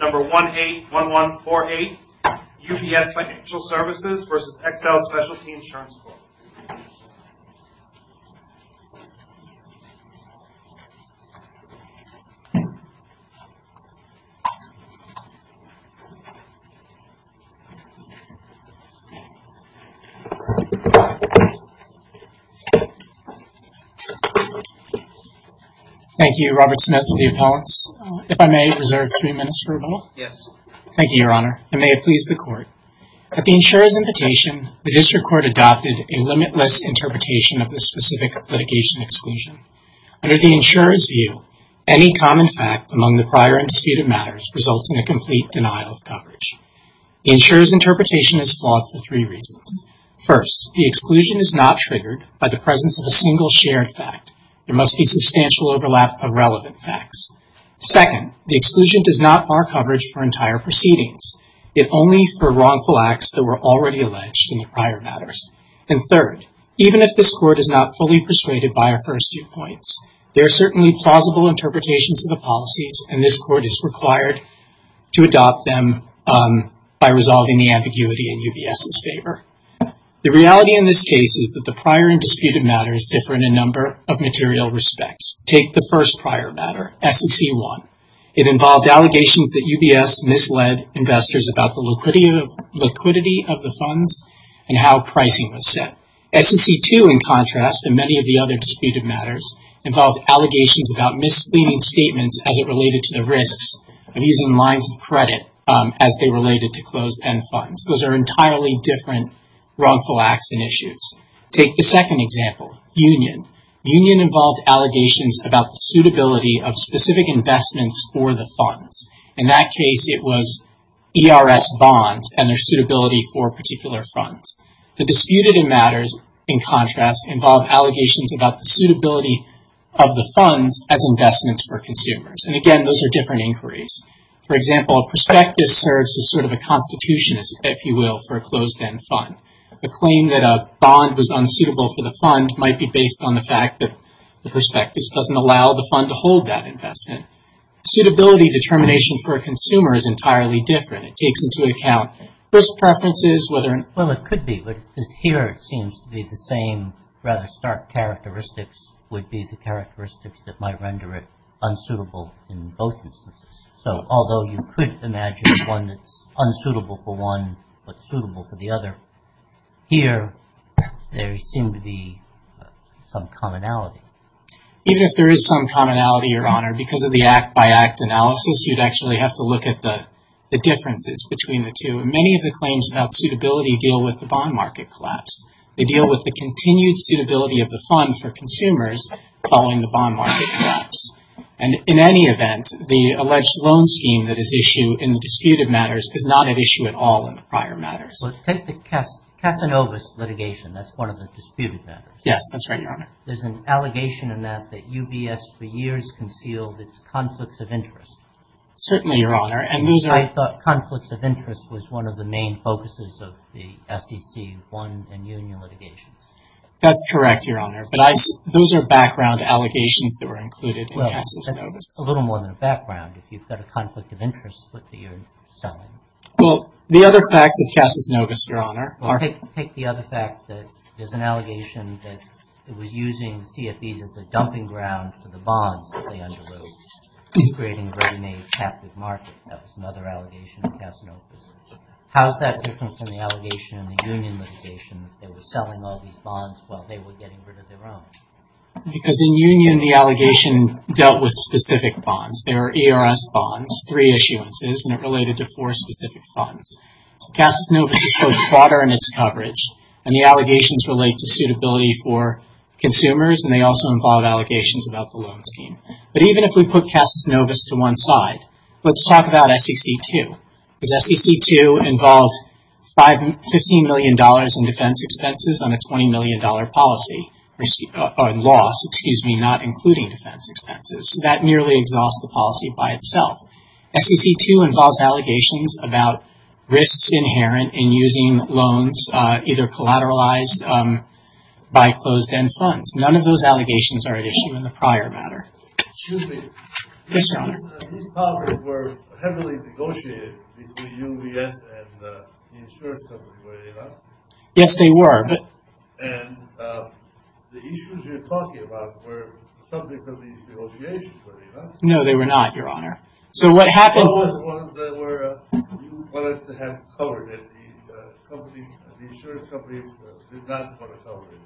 Number 181148, UBS Financial Services v. XL Specialty Insurance Co. Thank you, Robert Smith, and the appellants. If I may, reserve three minutes for rebuttal. Yes. Thank you, Your Honor, and may it please the Court. At the insurer's invitation, the District Court adopted a limitless interpretation of the specific litigation exclusion. Under the insurer's view, any common fact among the prior and disputed matters results in a complete denial of coverage. The insurer's interpretation is flawed for three reasons. First, the exclusion is not triggered by the presence of a single shared fact. There must be substantial overlap of relevant facts. Second, the exclusion does not bar coverage for entire proceedings, yet only for wrongful acts that were already alleged in the prior matters. And third, even if this Court is not fully persuaded by our first two points, there are certainly plausible interpretations of the policies, and this Court is required to adopt them by resolving the ambiguity in UBS's favor. The reality in this case is that the prior and disputed matters differ in a number of material respects. Take the first prior matter, SEC 1. It involved allegations that UBS misled investors about the liquidity of the funds and how price pricing was set. SEC 2, in contrast, and many of the other disputed matters, involved allegations about misleading statements as it related to the risks of using lines of credit as they related to closed-end funds. Those are entirely different wrongful acts and issues. Take the second example, union. Union involved allegations about the suitability of specific investments for the funds. In that case, it was ERS bonds and their suitability for particular funds. The disputed matters, in contrast, involved allegations about the suitability of the funds as investments for consumers. And again, those are different inquiries. For example, a prospectus serves as sort of a constitution, if you will, for a closed-end fund. A claim that a bond was unsuitable for the fund might be based on the fact that the prospectus doesn't allow the fund to hold that investment. Suitability determination for a consumer is entirely different. It takes into account risk preferences, whether... Well, it could be. Here, it seems to be the same rather stark characteristics would be the characteristics that might render it unsuitable in both instances. So, although you could imagine one that's unsuitable for one but suitable for the other, here there seemed to be some commonality. Even if there is some commonality, Your Honor, because of the act-by-act analysis, you'd actually have to look at the differences between the two. And many of the claims about suitability deal with the bond market collapse. They deal with the continued suitability of the fund for consumers following the bond market collapse. And in any event, the alleged loan scheme that is issued in the disputed matters is not at issue at all in the prior matters. Well, take the Casanovas litigation. That's one of the disputed matters. Yes, that's right, Your Honor. There's an allegation in that that UBS for years concealed its conflicts of interest. Certainly, Your Honor, and those are... I thought conflicts of interest was one of the main focuses of the SEC one and union litigation. That's correct, Your Honor, but those are background allegations that were included in Casanovas. Well, that's a little more than a background. If you've got a conflict of interest, what you're selling. Well, the other facts of Casanovas, Your Honor, are... Take the other fact that there's an allegation that it was using CFEs as a dumping ground for the bonds that they underwrote, creating a ready-made captive market. That was another allegation of Casanovas. How is that different from the allegation in the union litigation that they were selling all these bonds while they were getting rid of their own? Because in union, the allegation dealt with specific bonds. There were ERS bonds, three issuances, and it related to four specific funds. Casanovas is broader in its coverage, and the allegations relate to suitability for consumers, and they also involve allegations about the loan scheme. But even if we put Casanovas to one side, let's talk about SEC 2. Because SEC 2 involved $15 million in defense expenses on a $20 million policy, or loss, excuse me, not including defense expenses. That merely exhausts the policy by itself. SEC 2 involves allegations about risks inherent in using loans either collateralized by closed-end funds. None of those allegations are at issue in the prior matter. Excuse me. Yes, Your Honor. These powers were heavily negotiated between UBS and the insurance company, were they not? Yes, they were, but... And the issues you're talking about were subject of these negotiations, were they not? No, they were not, Your Honor. So what happened... They were the ones that you wanted to have covered, and the insurance companies did not want to cover it.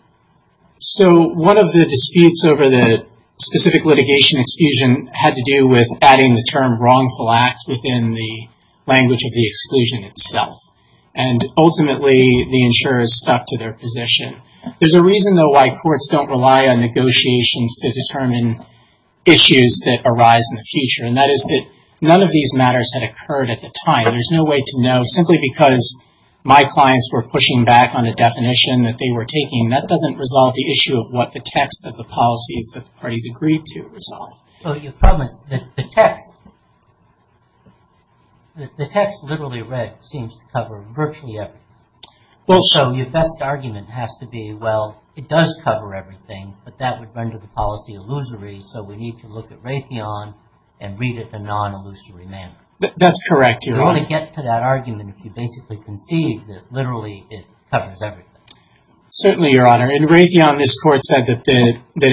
So one of the disputes over the specific litigation exclusion had to do with adding the term wrongful act within the language of the exclusion itself. And ultimately, the insurers stuck to their position. There's a reason, though, why courts don't rely on negotiations to determine issues that arise in the future, and that is that none of these matters had occurred at the time. There's no way to know. Simply because my clients were pushing back on a definition that they were taking, that doesn't resolve the issue of what the text of the policies that the parties agreed to resolve. Well, your problem is that the text, the text literally read seems to cover virtually everything. So your best argument has to be, well, it does cover everything, but that would render the policy illusory, so we need to look at Raytheon and read it in a non-illusory manner. That's correct, Your Honor. You're going to get to that argument if you basically conceive that literally it covers everything. Certainly, Your Honor. In Raytheon, this court said that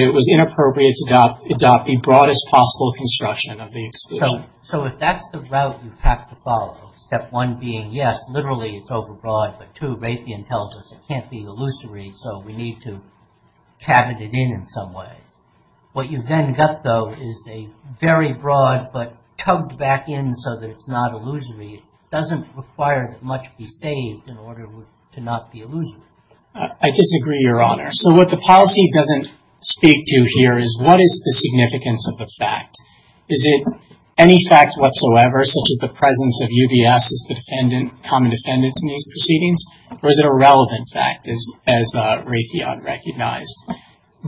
it was inappropriate to adopt the broadest possible construction of the exclusion. So if that's the route you have to follow, step one being, yes, literally it's overbroad, but two, Raytheon tells us it can't be illusory, so we need to tab it in in some ways. What you've then got, though, is a very broad but tugged back in so that it's not illusory. It doesn't require that much be saved in order to not be illusory. I disagree, Your Honor. So what the policy doesn't speak to here is what is the significance of the fact. Is it any fact whatsoever, such as the presence of UBS as the common defendant in these proceedings, or is it a relevant fact as Raytheon recognized?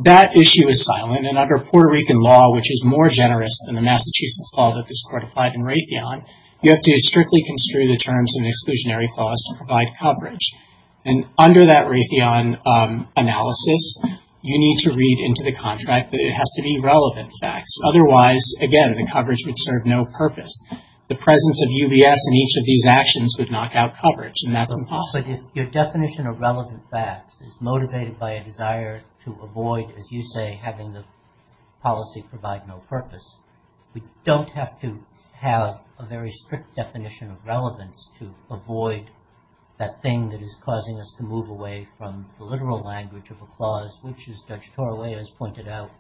That issue is silent, and under Puerto Rican law, which is more generous than the Massachusetts law that this court applied in Raytheon, you have to strictly construe the terms in the exclusionary clause to provide coverage. And under that Raytheon analysis, you need to read into the contract that it has to be relevant facts. Otherwise, again, the coverage would serve no purpose. The presence of UBS in each of these actions would knock out coverage, and that's impossible. But if your definition of relevant facts is motivated by a desire to avoid, as you say, having the policy provide no purpose, we don't have to have a very strict definition of relevance to avoid that thing that is causing us to move away from the literal language of a clause, which, as Judge Torralea has pointed out,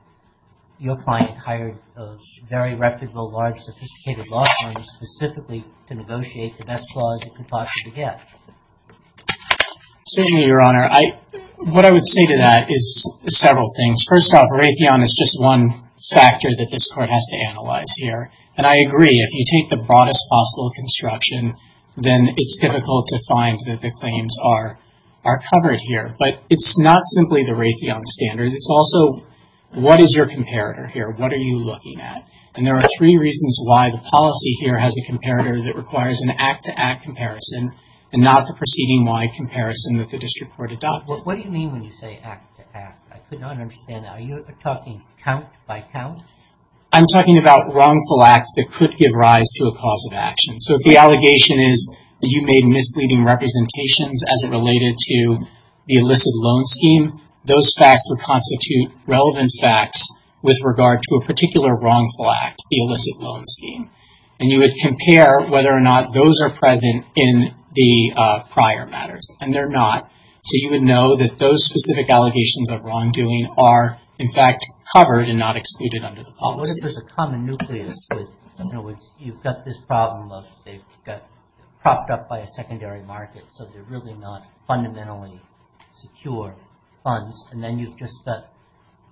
your client hired a very reputable, large, sophisticated law firm specifically to negotiate the best clause it could possibly get. Excuse me, Your Honor. What I would say to that is several things. First off, Raytheon is just one factor that this court has to analyze here. And I agree, if you take the broadest possible construction, then it's difficult to find that the claims are covered here. But it's not simply the Raytheon standard. It's also what is your comparator here? What are you looking at? And there are three reasons why the policy here has a comparator that requires an act-to-act comparison and not the proceeding-wide comparison that the district court adopted. What do you mean when you say act-to-act? I could not understand that. Are you talking count-by-count? I'm talking about wrongful acts that could give rise to a cause of action. So if the allegation is that you made misleading representations as it related to the illicit loan scheme, those facts would constitute relevant facts with regard to a particular wrongful act, the illicit loan scheme. And you would compare whether or not those are present in the prior matters. And they're not. So you would know that those specific allegations of wrongdoing are, in fact, covered and not excluded under the policy. What if there's a common nucleus? In other words, you've got this problem of they've got propped up by a secondary market, so they're really not fundamentally secure funds, and then you've just got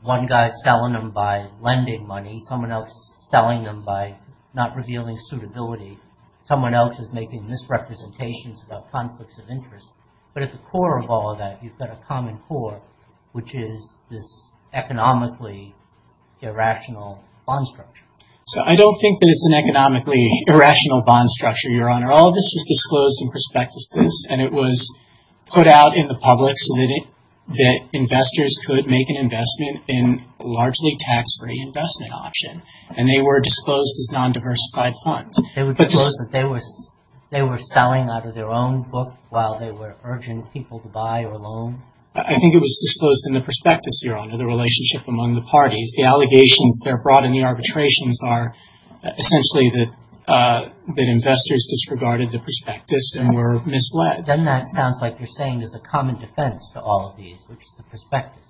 one guy selling them by lending money, someone else selling them by not revealing suitability, someone else is making misrepresentations about conflicts of interest. But at the core of all of that, you've got a common core, which is this economically irrational bond structure. So I don't think that it's an economically irrational bond structure, Your Honor. All of this was disclosed in prospectuses, and it was put out in the public so that investors could make an investment in a largely tax-free investment option. And they were disclosed as non-diversified funds. They were disclosed that they were selling out of their own book while they were urging people to buy or loan? I think it was disclosed in the prospectus, Your Honor, the relationship among the parties. The allegations that are brought in the arbitrations are essentially that investors disregarded the prospectus and were misled. Then that sounds like you're saying there's a common defense to all of these, which is the prospectus.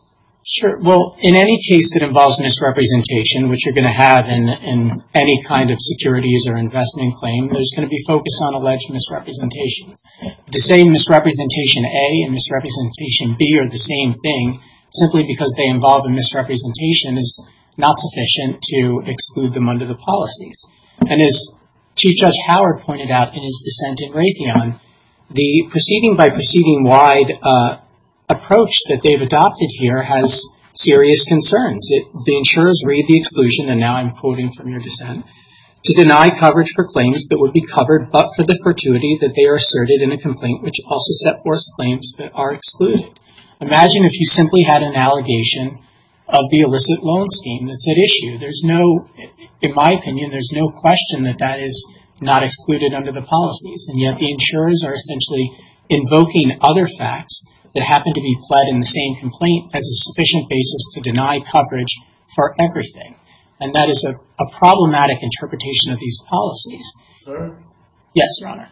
Sure. Well, in any case that involves misrepresentation, which you're going to have in any kind of securities or investment claim, there's going to be focus on alleged misrepresentations. To say misrepresentation A and misrepresentation B are the same thing simply because they involve a misrepresentation is not sufficient to exclude them under the policies. And as Chief Judge Howard pointed out in his dissent in Raytheon, the proceeding-by-proceeding-wide approach that they've adopted here has serious concerns. The insurers read the exclusion, and now I'm quoting from your dissent, to deny coverage for claims that would be covered but for the fortuity that they are asserted in a complaint which also set forth claims that are excluded. Imagine if you simply had an allegation of the illicit loan scheme that's at issue. There's no, in my opinion, there's no question that that is not excluded under the policies, and yet the insurers are essentially invoking other facts that happen to be pled in the same complaint as a sufficient basis to deny coverage for everything. And that is a problematic interpretation of these policies. Sir? Yes, Your Honor.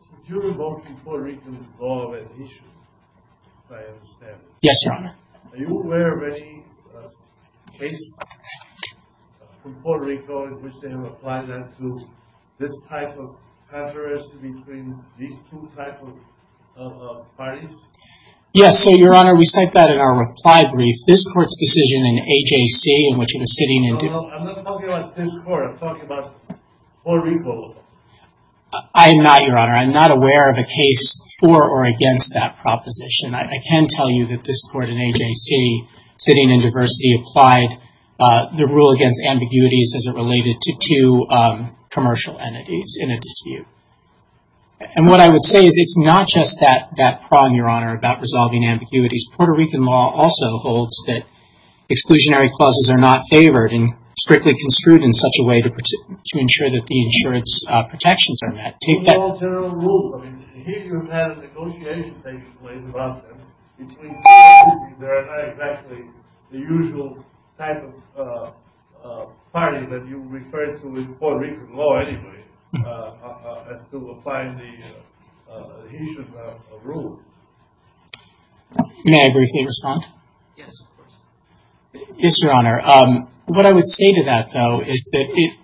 Since you're invoking Puerto Rican law as an issue, as I understand it. Yes, Your Honor. Are you aware of any case from Puerto Rico in which they have applied that to this type of contrast between these two types of parties? Yes, so Your Honor, we cite that in our reply brief. This court's decision in AJC in which it was sitting in I'm not talking about this court, I'm talking about Puerto Rico. I'm not, Your Honor. I'm not aware of a case for or against that proposition. I can tell you that this court in AJC, sitting in diversity, applied the rule against ambiguities as it related to two commercial entities in a dispute. And what I would say is it's not just that prong, Your Honor, about resolving ambiguities. Puerto Rican law also holds that exclusionary clauses are not favored and strictly construed in such a way to ensure that the insurance protections are met. Take that. It's not a general rule. I mean, here you have negotiations taking place about them. Between the two entities, there are not exactly the usual type of parties that you refer to in Puerto Rican law anyway as to apply the adhesion of a rule. May I briefly respond? Yes, of course. Yes, Your Honor. What I would say to that, though, is that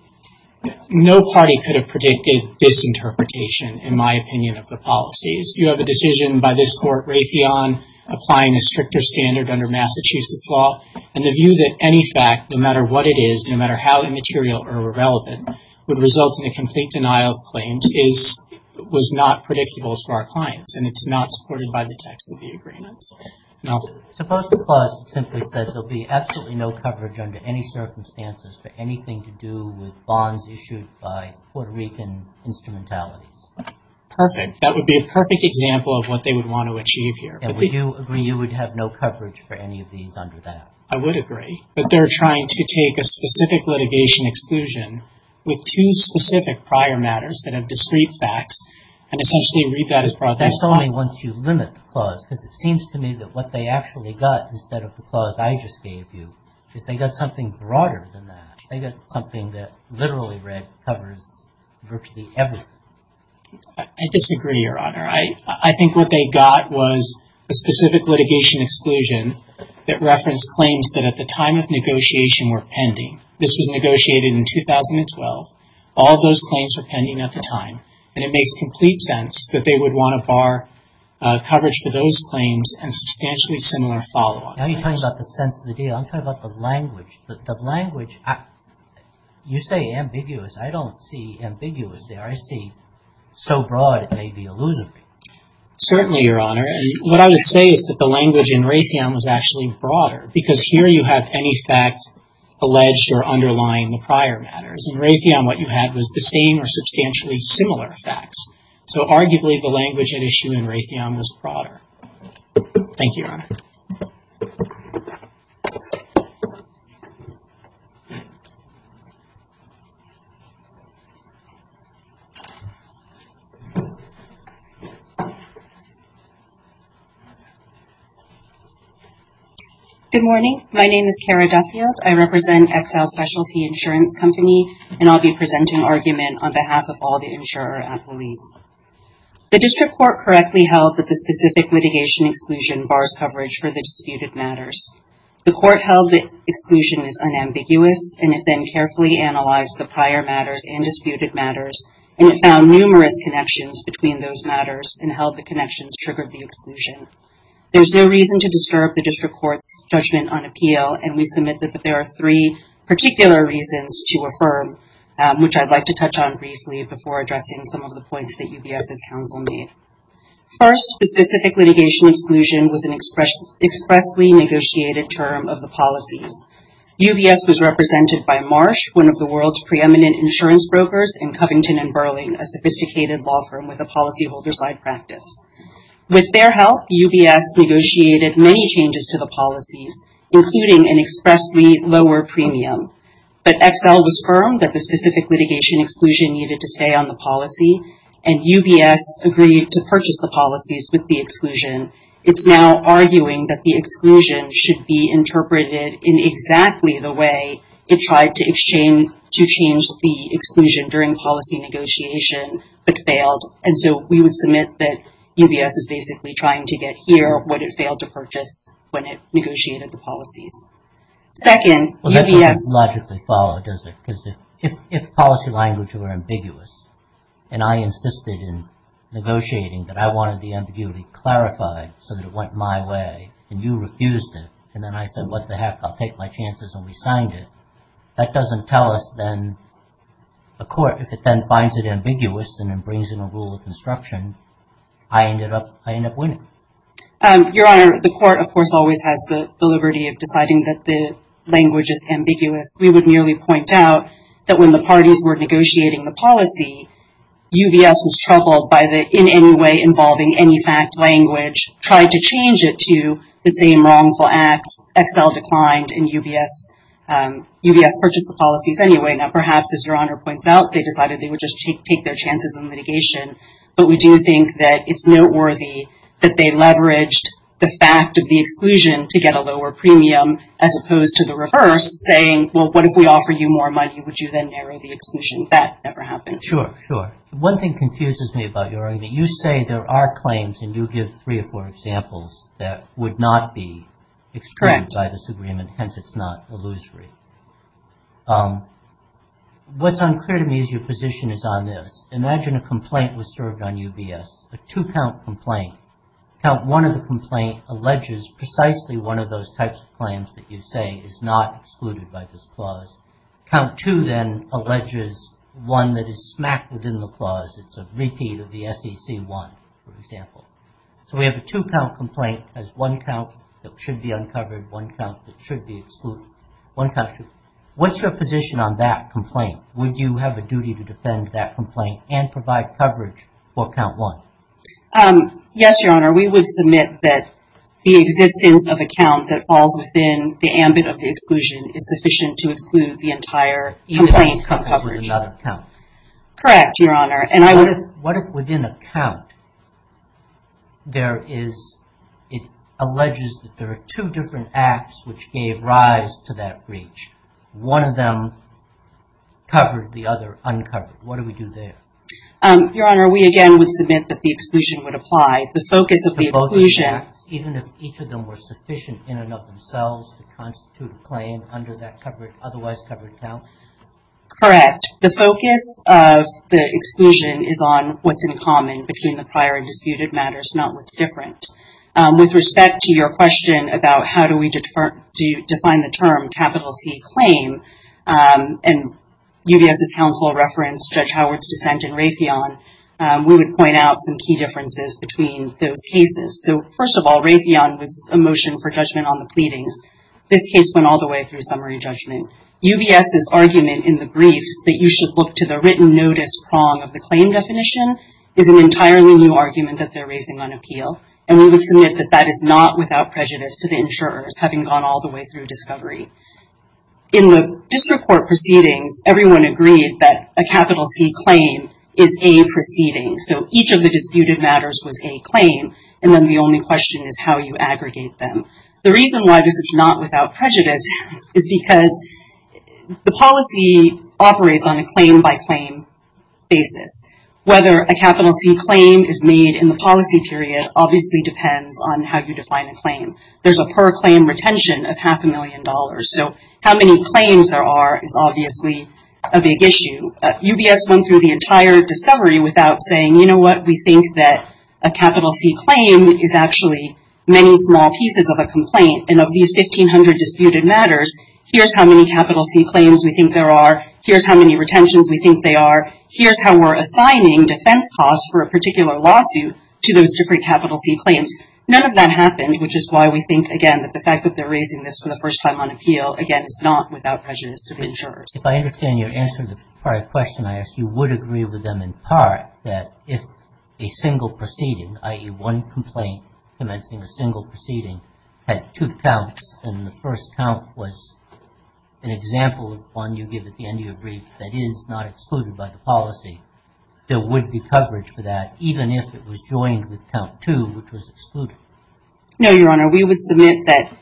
no party could have predicted this interpretation, in my opinion, of the policies. You have a decision by this court, Raytheon, applying a stricter standard under Massachusetts law, and the view that any fact, no matter what it is, no matter how immaterial or irrelevant, would result in a complete denial of claims was not predictable to our clients and it's not supported by the text of the agreement. Suppose the clause simply says there'll be absolutely no coverage under any circumstances for anything to do with bonds issued by Puerto Rican instrumentalities. Perfect. That would be a perfect example of what they would want to achieve here. And would you agree you would have no coverage for any of these under that? I would agree. But they're trying to take a specific litigation exclusion with two specific prior matters that have discrete facts and essentially read that as broadly as possible. That's only once you limit the clause, because it seems to me that what they actually got instead of the clause I just gave you is they got something broader than that. They got something that literally covers virtually everything. I disagree, Your Honor. I think what they got was a specific litigation exclusion that referenced claims that at the time of negotiation were pending. This was negotiated in 2012. All those claims were pending at the time. And it makes complete sense that they would want to bar coverage for those claims and substantially similar follow-up claims. Now you're talking about the sense of the deal. I'm talking about the language. The language, you say ambiguous. I don't see ambiguous there. I see so broad it may be illusory. Certainly, Your Honor. And what I would say is that the language in Raytheon was actually broader, because here you have any fact alleged or underlying the prior matters. In Raytheon, what you had was the same or substantially similar facts. So arguably, the language at issue in Raytheon was broader. Thank you, Your Honor. Good morning. My name is Kara Duffield. I represent Exile Specialty Insurance Company, and I'll be presenting argument on behalf of all the insurer employees. The district court correctly held that the specific litigation exclusion bars coverage for the disputed matters. The court held the exclusion is unambiguous, and it then carefully analyzed the prior matters and disputed matters, and it found numerous connections between those matters and held the connections triggered the exclusion. There's no reason to disturb the district court's judgment on appeal, and we submit that there are three particular reasons to affirm, which I'd like to touch on briefly before addressing some of the points that UBS's counsel made. First, the specific litigation exclusion was an expressly negotiated term of the policies. UBS was represented by Marsh, one of the world's preeminent insurance brokers, and Covington & Burling, a sophisticated law firm with a policyholder's-side practice. With their help, UBS negotiated many changes to the policies, including an expressly lower premium. But Excel was firm that the specific litigation exclusion needed to stay on the policy, and UBS agreed to purchase the policies with the exclusion. It's now arguing that the exclusion should be interpreted in exactly the way it tried to exchange, to change the exclusion during policy negotiation, but failed. And so we would submit that UBS is basically trying to get here what it failed to purchase when it negotiated the policies. Second, UBS- Well, that doesn't logically follow, does it? Because if policy language were ambiguous, and I insisted in negotiating that I wanted the ambiguity clarified so that it went my way, and you refused it, and then I said, what the heck, I'll take my chances, and we signed it, that doesn't tell us then, a court, if it then finds it ambiguous and then brings in a rule of construction, I ended up winning. Your Honor, the court, of course, always has the liberty of deciding that the language is ambiguous. We would merely point out that when the parties were negotiating the policy, UBS was troubled by the in any way involving any fact language, tried to change it to the same wrongful acts, Excel declined, and UBS purchased the policies anyway. Now, perhaps, as Your Honor points out, they decided they would just take their chances in litigation, but we do think that it's noteworthy that they leveraged the fact of the exclusion to get a lower premium as opposed to the reverse, saying, well, what if we offer you more money? Would you then narrow the exclusion? That never happened. Sure, sure. One thing confuses me about your argument. You say there are claims, and you give three or four examples, that would not be excluded by this agreement, hence it's not illusory. What's unclear to me is your position is on this. Imagine a complaint was served on UBS, a two-count complaint. Count one of the complaint alleges precisely one of those types of claims that you say is not excluded by this clause. Count two then alleges one that is smacked within the clause. It's a repeat of the SEC one, for example. So we have a two-count complaint as one count that should be uncovered, one count that should be excluded. One count, two. What's your position on that complaint? Would you have a duty to defend that complaint and provide coverage for count one? Yes, Your Honor. We would submit that the existence of a count that falls within the ambit of the exclusion is sufficient to exclude the entire complaint coverage. You would have to cover another count. Correct, Your Honor. What if within a count there is, it alleges that there are two different acts which gave rise to that breach. One of them covered, the other uncovered. What do we do there? Your Honor, we again would submit that the exclusion would apply. The focus of the exclusion... Even if each of them were sufficient in and of themselves to constitute a claim under that otherwise covered count? Correct. The focus of the exclusion is on what's in common between the prior and disputed matters, not what's different. With respect to your question about how do we define the term capital C claim, and UBS's counsel referenced Judge Howard's dissent in Raytheon, we would point out some key differences between those cases. So first of all, Raytheon was a motion for judgment on the pleadings. This case went all the way through summary judgment. UBS's argument in the briefs that you should look to the written notice prong of the claim definition is an entirely new argument that they're raising on appeal, and we would submit that that is not without prejudice to the insurers, having gone all the way through discovery. In the district court proceedings, everyone agreed that a capital C claim is a proceeding. So each of the disputed matters was a claim, and then the only question is how you aggregate them. The reason why this is not without prejudice is because the policy operates on a claim by claim basis. Whether a capital C claim is made in the policy period obviously depends on how you define a claim. There's a per claim retention of half a million dollars, so how many claims there are is obviously a big issue. UBS went through the entire discovery without saying, you know what, we think that a capital C claim is actually many small pieces of a complaint, and of these 1,500 disputed matters, here's how many capital C claims we think there are, here's how many retentions we think there are, here's how we're assigning defense costs for a particular lawsuit to those different capital C claims. None of that happened, which is why we think, again, that the fact that they're raising this for the first time on appeal, again, is not without prejudice to the insurers. If I understand your answer to the prior question I asked, you would agree with them in part that if a single proceeding, i.e., one complaint commencing a single proceeding, had two counts and the first count was an example of one you give at the end of your brief that is not excluded by the policy, there would be coverage for that even if it was joined with count two, which was excluded. No, Your Honor. We would submit that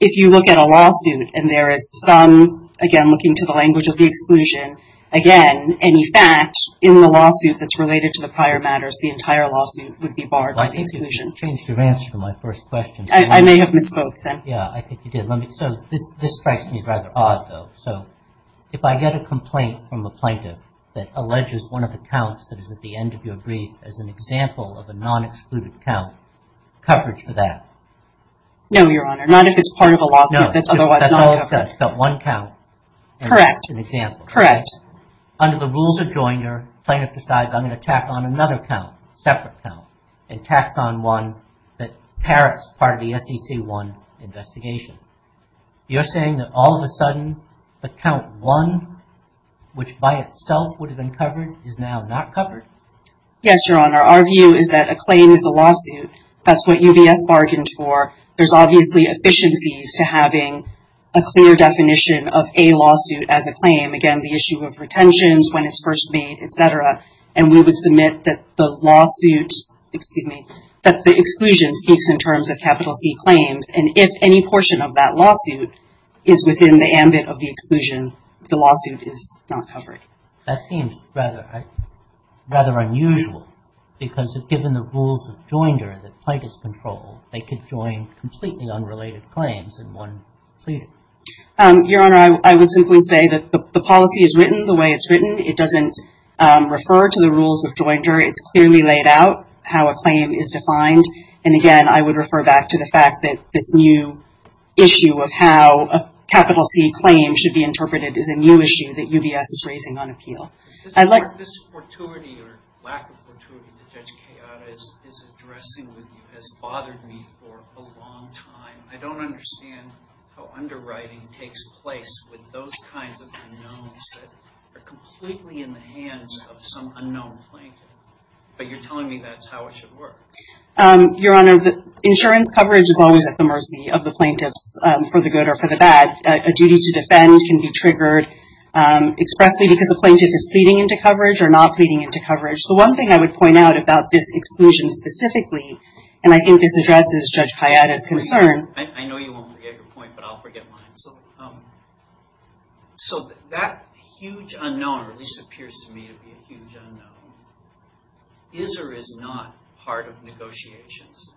if you look at a lawsuit and there is some, again, looking to the language of the exclusion, again, any fact in the lawsuit that's related to the prior matters, the entire lawsuit would be barred by the exclusion. I think you've changed your answer to my first question. I may have misspoke then. Yeah, I think you did. So this strikes me as rather odd, though. So if I get a complaint from a plaintiff that alleges one of the counts that is at the end of your brief as an example of a non-excluded count, coverage for that? No, Your Honor. Not if it's part of a lawsuit that's otherwise not covered. It's got one count. Correct. It's an example. Correct. Under the rules of joiner, plaintiff decides I'm going to tack on another count, separate count, and tax on one that parrots part of the SEC-1 investigation. You're saying that all of a sudden the count one, which by itself would have been covered, is now not covered? Yes, Your Honor. Our view is that a claim is a lawsuit. That's what UBS bargained for. There's obviously efficiencies to having a clear definition of a lawsuit as a claim. Again, the issue of retentions, when it's first made, et cetera. And we would submit that the lawsuits, excuse me, that the exclusion speaks in terms of capital C claims. And if any portion of that lawsuit is within the ambit of the exclusion, the lawsuit is not covered. That seems rather unusual because given the rules of joiner that claim is defined. And again, I would refer back to the fact that this new issue of how capital C claims should be interpreted is a new issue that UBS is raising on appeal. This fortuity or lack of fortuity that Judge Keada is addressing with you It's not a new issue that UBS is raising on appeal. I don't understand how underwriting takes place with those kinds of unknowns that are completely in the hands of some unknown plaintiff. But you're telling me that's how it should work. Your Honor, the insurance coverage is always at the mercy of the plaintiffs for the good or for the bad. A duty to defend can be triggered expressly because a plaintiff is pleading into coverage or not pleading into coverage. The one thing I would point out about this exclusion specifically, and I think this addresses Judge Keada's concern. I know you won't forget your point, but I'll forget mine. So that huge unknown, or at least appears to me to be a huge unknown, is or is not part of negotiations.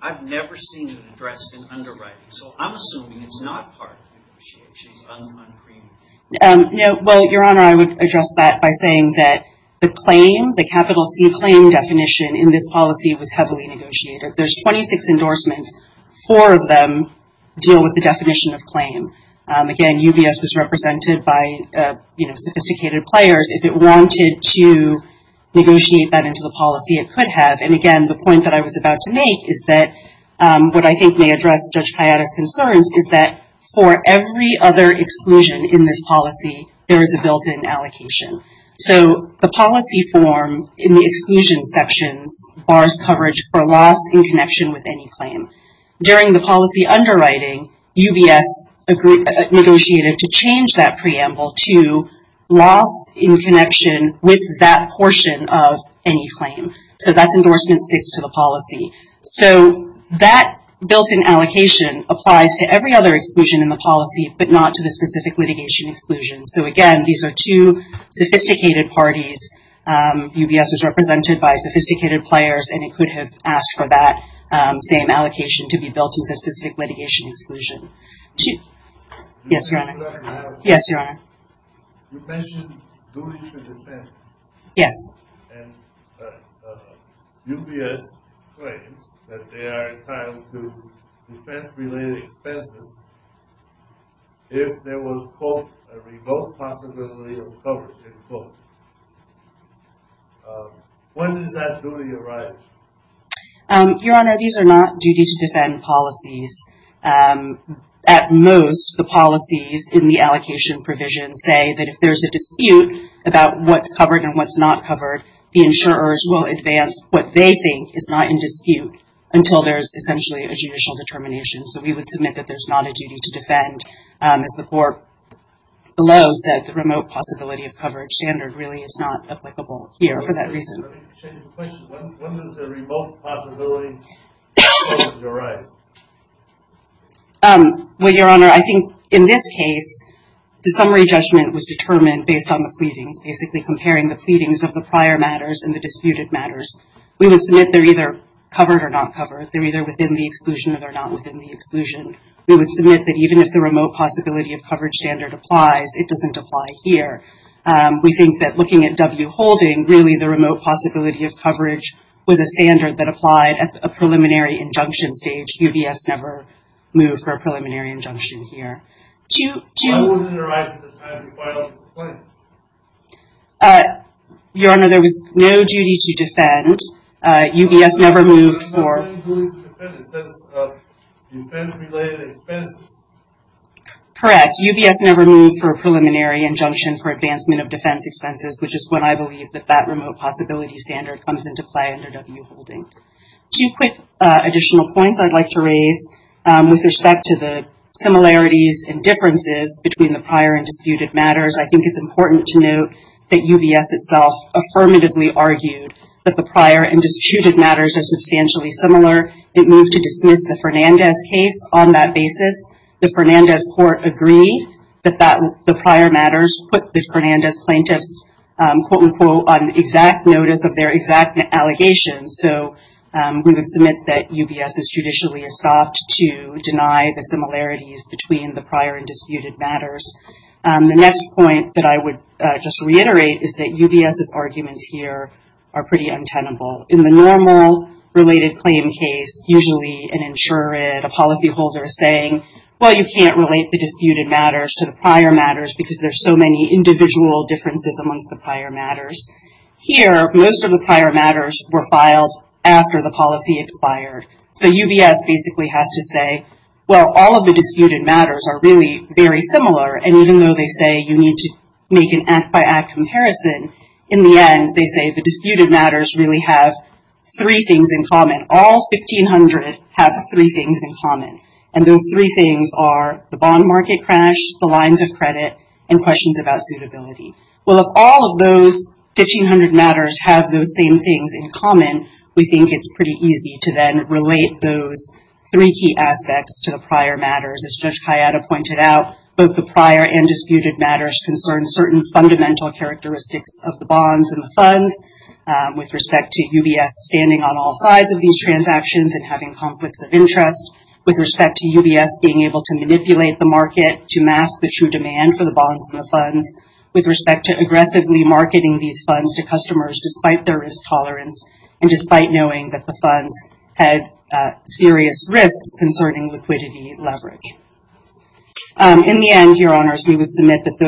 I've never seen it addressed in underwriting. So I'm assuming it's not part of negotiations. Your Honor, I would address that by saying that the claim, the capital C claim definition in this policy was heavily negotiated. There's 26 endorsements. Four of them deal with the definition of claim. Again, UBS was represented by sophisticated players. If it wanted to negotiate that into the policy, it could have. And again, the point that I was about to make is that what I think may address Judge Keada's concerns is that for every other exclusion in this policy, there is a built-in allocation. So the policy form in the exclusion sections bars coverage for loss in connection with any claim. During the policy underwriting, UBS negotiated to change that preamble to loss in connection with that portion of any claim. So that's endorsement states to the policy. So that built-in allocation applies to every other exclusion in the policy, but not to the specific litigation exclusion. So again, these are two sophisticated parties. UBS was represented by sophisticated players, and it could have asked for that same allocation to be built into the specific litigation exclusion. Yes, Your Honor. Yes, Your Honor. You mentioned duty to defense. Yes. And UBS claims that they are entitled to defense-related expenses. If there was, quote, a remote possibility of coverage, end quote. When does that duty arise? Your Honor, these are not duty to defend policies. At most, the policies in the allocation provision say that if there's a dispute about what's covered and what's not covered, the insurers will advance what they think is not in dispute until there's essentially a judicial determination. So we would submit that there's not a duty to defend. As the court below said, the remote possibility of coverage standard really is not applicable here for that reason. Let me change the question. When does the remote possibility arise? Well, Your Honor, I think in this case, the summary judgment was determined based on the pleadings, basically comparing the pleadings of the prior matters and the disputed matters. We would submit they're either covered or not covered. They're either within the exclusion or they're not within the exclusion. We would submit that even if the remote possibility of coverage standard applies, it doesn't apply here. We think that looking at W. Holding, really the remote possibility of coverage was a standard that applied at a preliminary injunction stage. UBS never moved for a preliminary injunction here. Why wouldn't it arise at the time of the final complaint? Your Honor, there was no duty to defend. Correct. UBS never moved for a preliminary injunction for advancement of defense expenses, which is when I believe that that remote possibility standard comes into play under W. Holding. Two quick additional points I'd like to raise with respect to the similarities and differences between the prior and disputed matters. I think it's important to note that UBS itself affirmatively argued that the prior and disputed matters were not covered. So, the prior and disputed matters are substantially similar. It moved to dismiss the Fernandez case on that basis. The Fernandez court agreed that the prior matters put the Fernandez plaintiffs, quote, unquote, on exact notice of their exact allegations. So, we would submit that UBS is judicially estopped to deny the similarities between the prior and disputed matters. The next point that I would just reiterate is that UBS's arguments here are pretty untenable. In the normal related claim case, usually an insured, a policyholder saying, well, you can't relate the disputed matters to the prior matters because there's so many individual differences amongst the prior matters. Here, most of the prior matters were filed after the policy expired. So, UBS basically has to say, well, all of the disputed matters are really very similar. And even though they say you need to make an act by act comparison, in the end, they say the disputed matters really have three things in common. All 1,500 have three things in common. And those three things are the bond market crash, the lines of credit, and questions about suitability. Well, if all of those 1,500 matters have those same things in common, we think it's pretty easy to then relate those three key aspects to the prior matters. As Judge Kayada pointed out, both the prior and disputed matters concern certain fundamental characteristics of the bonds and the funds. With respect to UBS standing on all sides of these transactions and having conflicts of interest. With respect to UBS being able to manipulate the market to mask the true demand for the bonds and the funds. With respect to aggressively marketing these funds to customers, despite their risk tolerance, and despite knowing that the funds had serious risks concerning liquidity leverage. In the end, your honors, we would submit that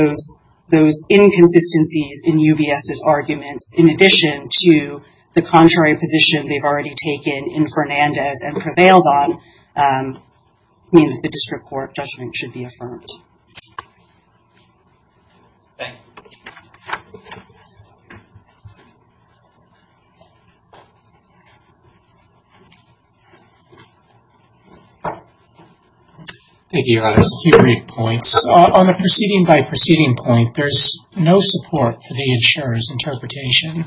those inconsistencies in UBS's arguments, in addition to the contrary position they've already taken in Fernandez and prevails on, mean that the district court judgment should be affirmed. Thank you, your honors. A few brief points. On the proceeding by proceeding point, there's no support for the insurer's interpretation,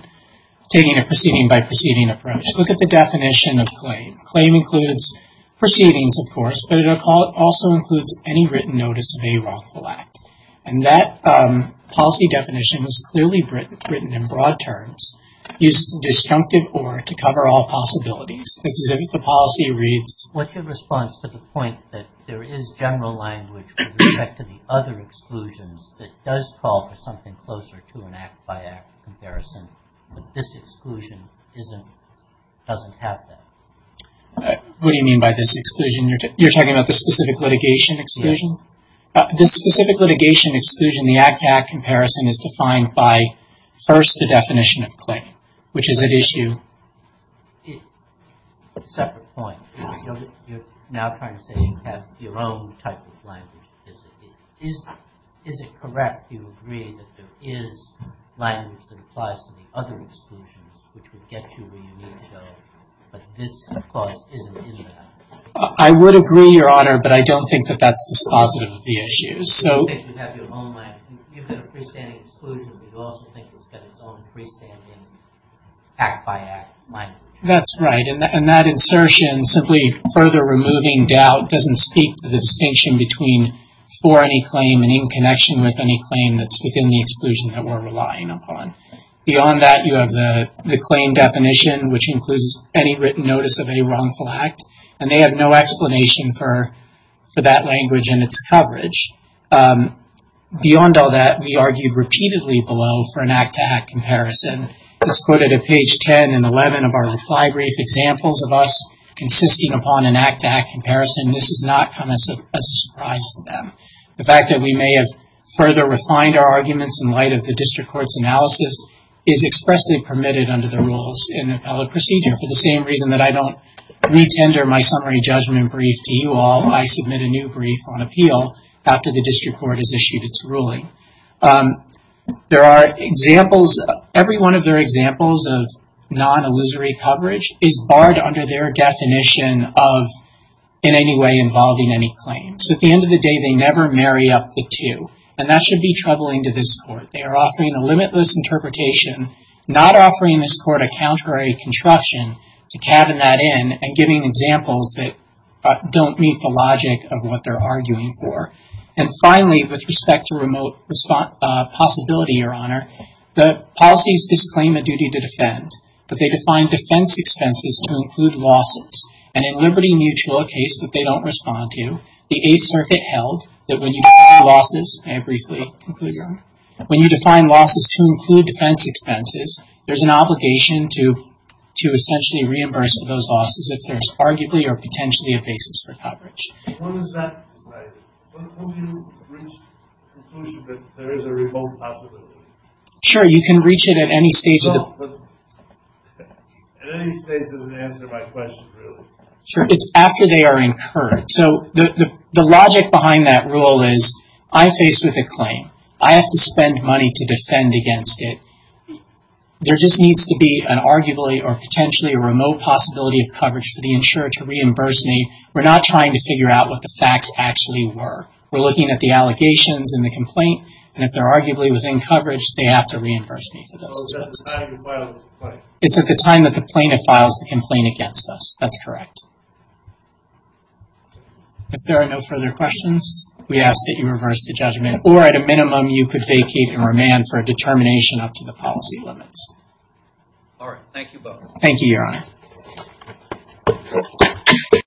taking a proceeding by proceeding approach. Look at the definition of claim. Claim includes proceedings, of course, but it also includes any written notice of a wrongful act. And that policy definition was clearly written in broad terms. Use disjunctive or to cover all possibilities. This is if the policy reads. What's your response to the point that there is general language to the other exclusions that does call for something closer to an act by act comparison, but this exclusion doesn't have that. What do you mean by this exclusion? You're talking about the specific litigation exclusion? The specific litigation exclusion, the act to act comparison is defined by first, the definition of claim, which is an issue. I would agree, your honor, but I don't think that that's dispositive of the issues. That's right. And that insertion simply further removing doubt doesn't speak to the distinction between for any claim and in connection with any claim that's within the exclusion that we're relying upon. Beyond that, you have the claim definition, which includes any written notice of a wrongful act, and they have no explanation for that language and its coverage. Beyond all that, we argued repeatedly below for an act to act comparison. As quoted at page 10 and 11 of our reply brief, examples of us insisting upon an act to act comparison. This has not come as a surprise to them. The fact that we may have further refined our arguments in light of the district court's analysis is expressly permitted under the rules in the appellate procedure for the same reason that I don't retender my summary judgment brief to you all. I submit a new brief on appeal after the district court has issued its ruling. There are examples, every one of their examples of non-illusory coverage is barred under their definition of in any way involving any claim. So at the end of the day, they never marry up the two, and that should be troubling to this court. They are offering a limitless interpretation, not offering this court a counter construction to cabin that in and giving examples that don't meet the logic of what they're arguing for. And finally, with respect to remote possibility, Your Honor, the policies disclaim a duty to defend, but they define defense expenses to include losses. And in Liberty Mutual, a case that they don't respond to, the Eighth Circuit held that when you define losses to include defense expenses, there's an obligation to essentially reimburse for those losses if there's arguably or potentially a basis for coverage. When is that decided? When do you reach the conclusion that there is a remote possibility? Sure, you can reach it at any stage. At any stage doesn't answer my question really. Sure, it's after they are incurred. So the logic behind that rule is I'm faced with a claim. I have to spend money to defend against it. There just needs to be an arguably or potentially a remote possibility of coverage for the insurer to reimburse me. We're not trying to figure out what the facts actually were. We're looking at the allegations in the complaint. And if they're arguably within coverage, they have to reimburse me for those expenses. So it's at the time you file the complaint? It's at the time that the plaintiff files the complaint against us. That's correct. If there are no further questions, we ask that you reverse the judgment. Or at a minimum, you could vacate and remand for a determination up to the policy limits. All right, thank you both. Thank you, Your Honor. Thank you.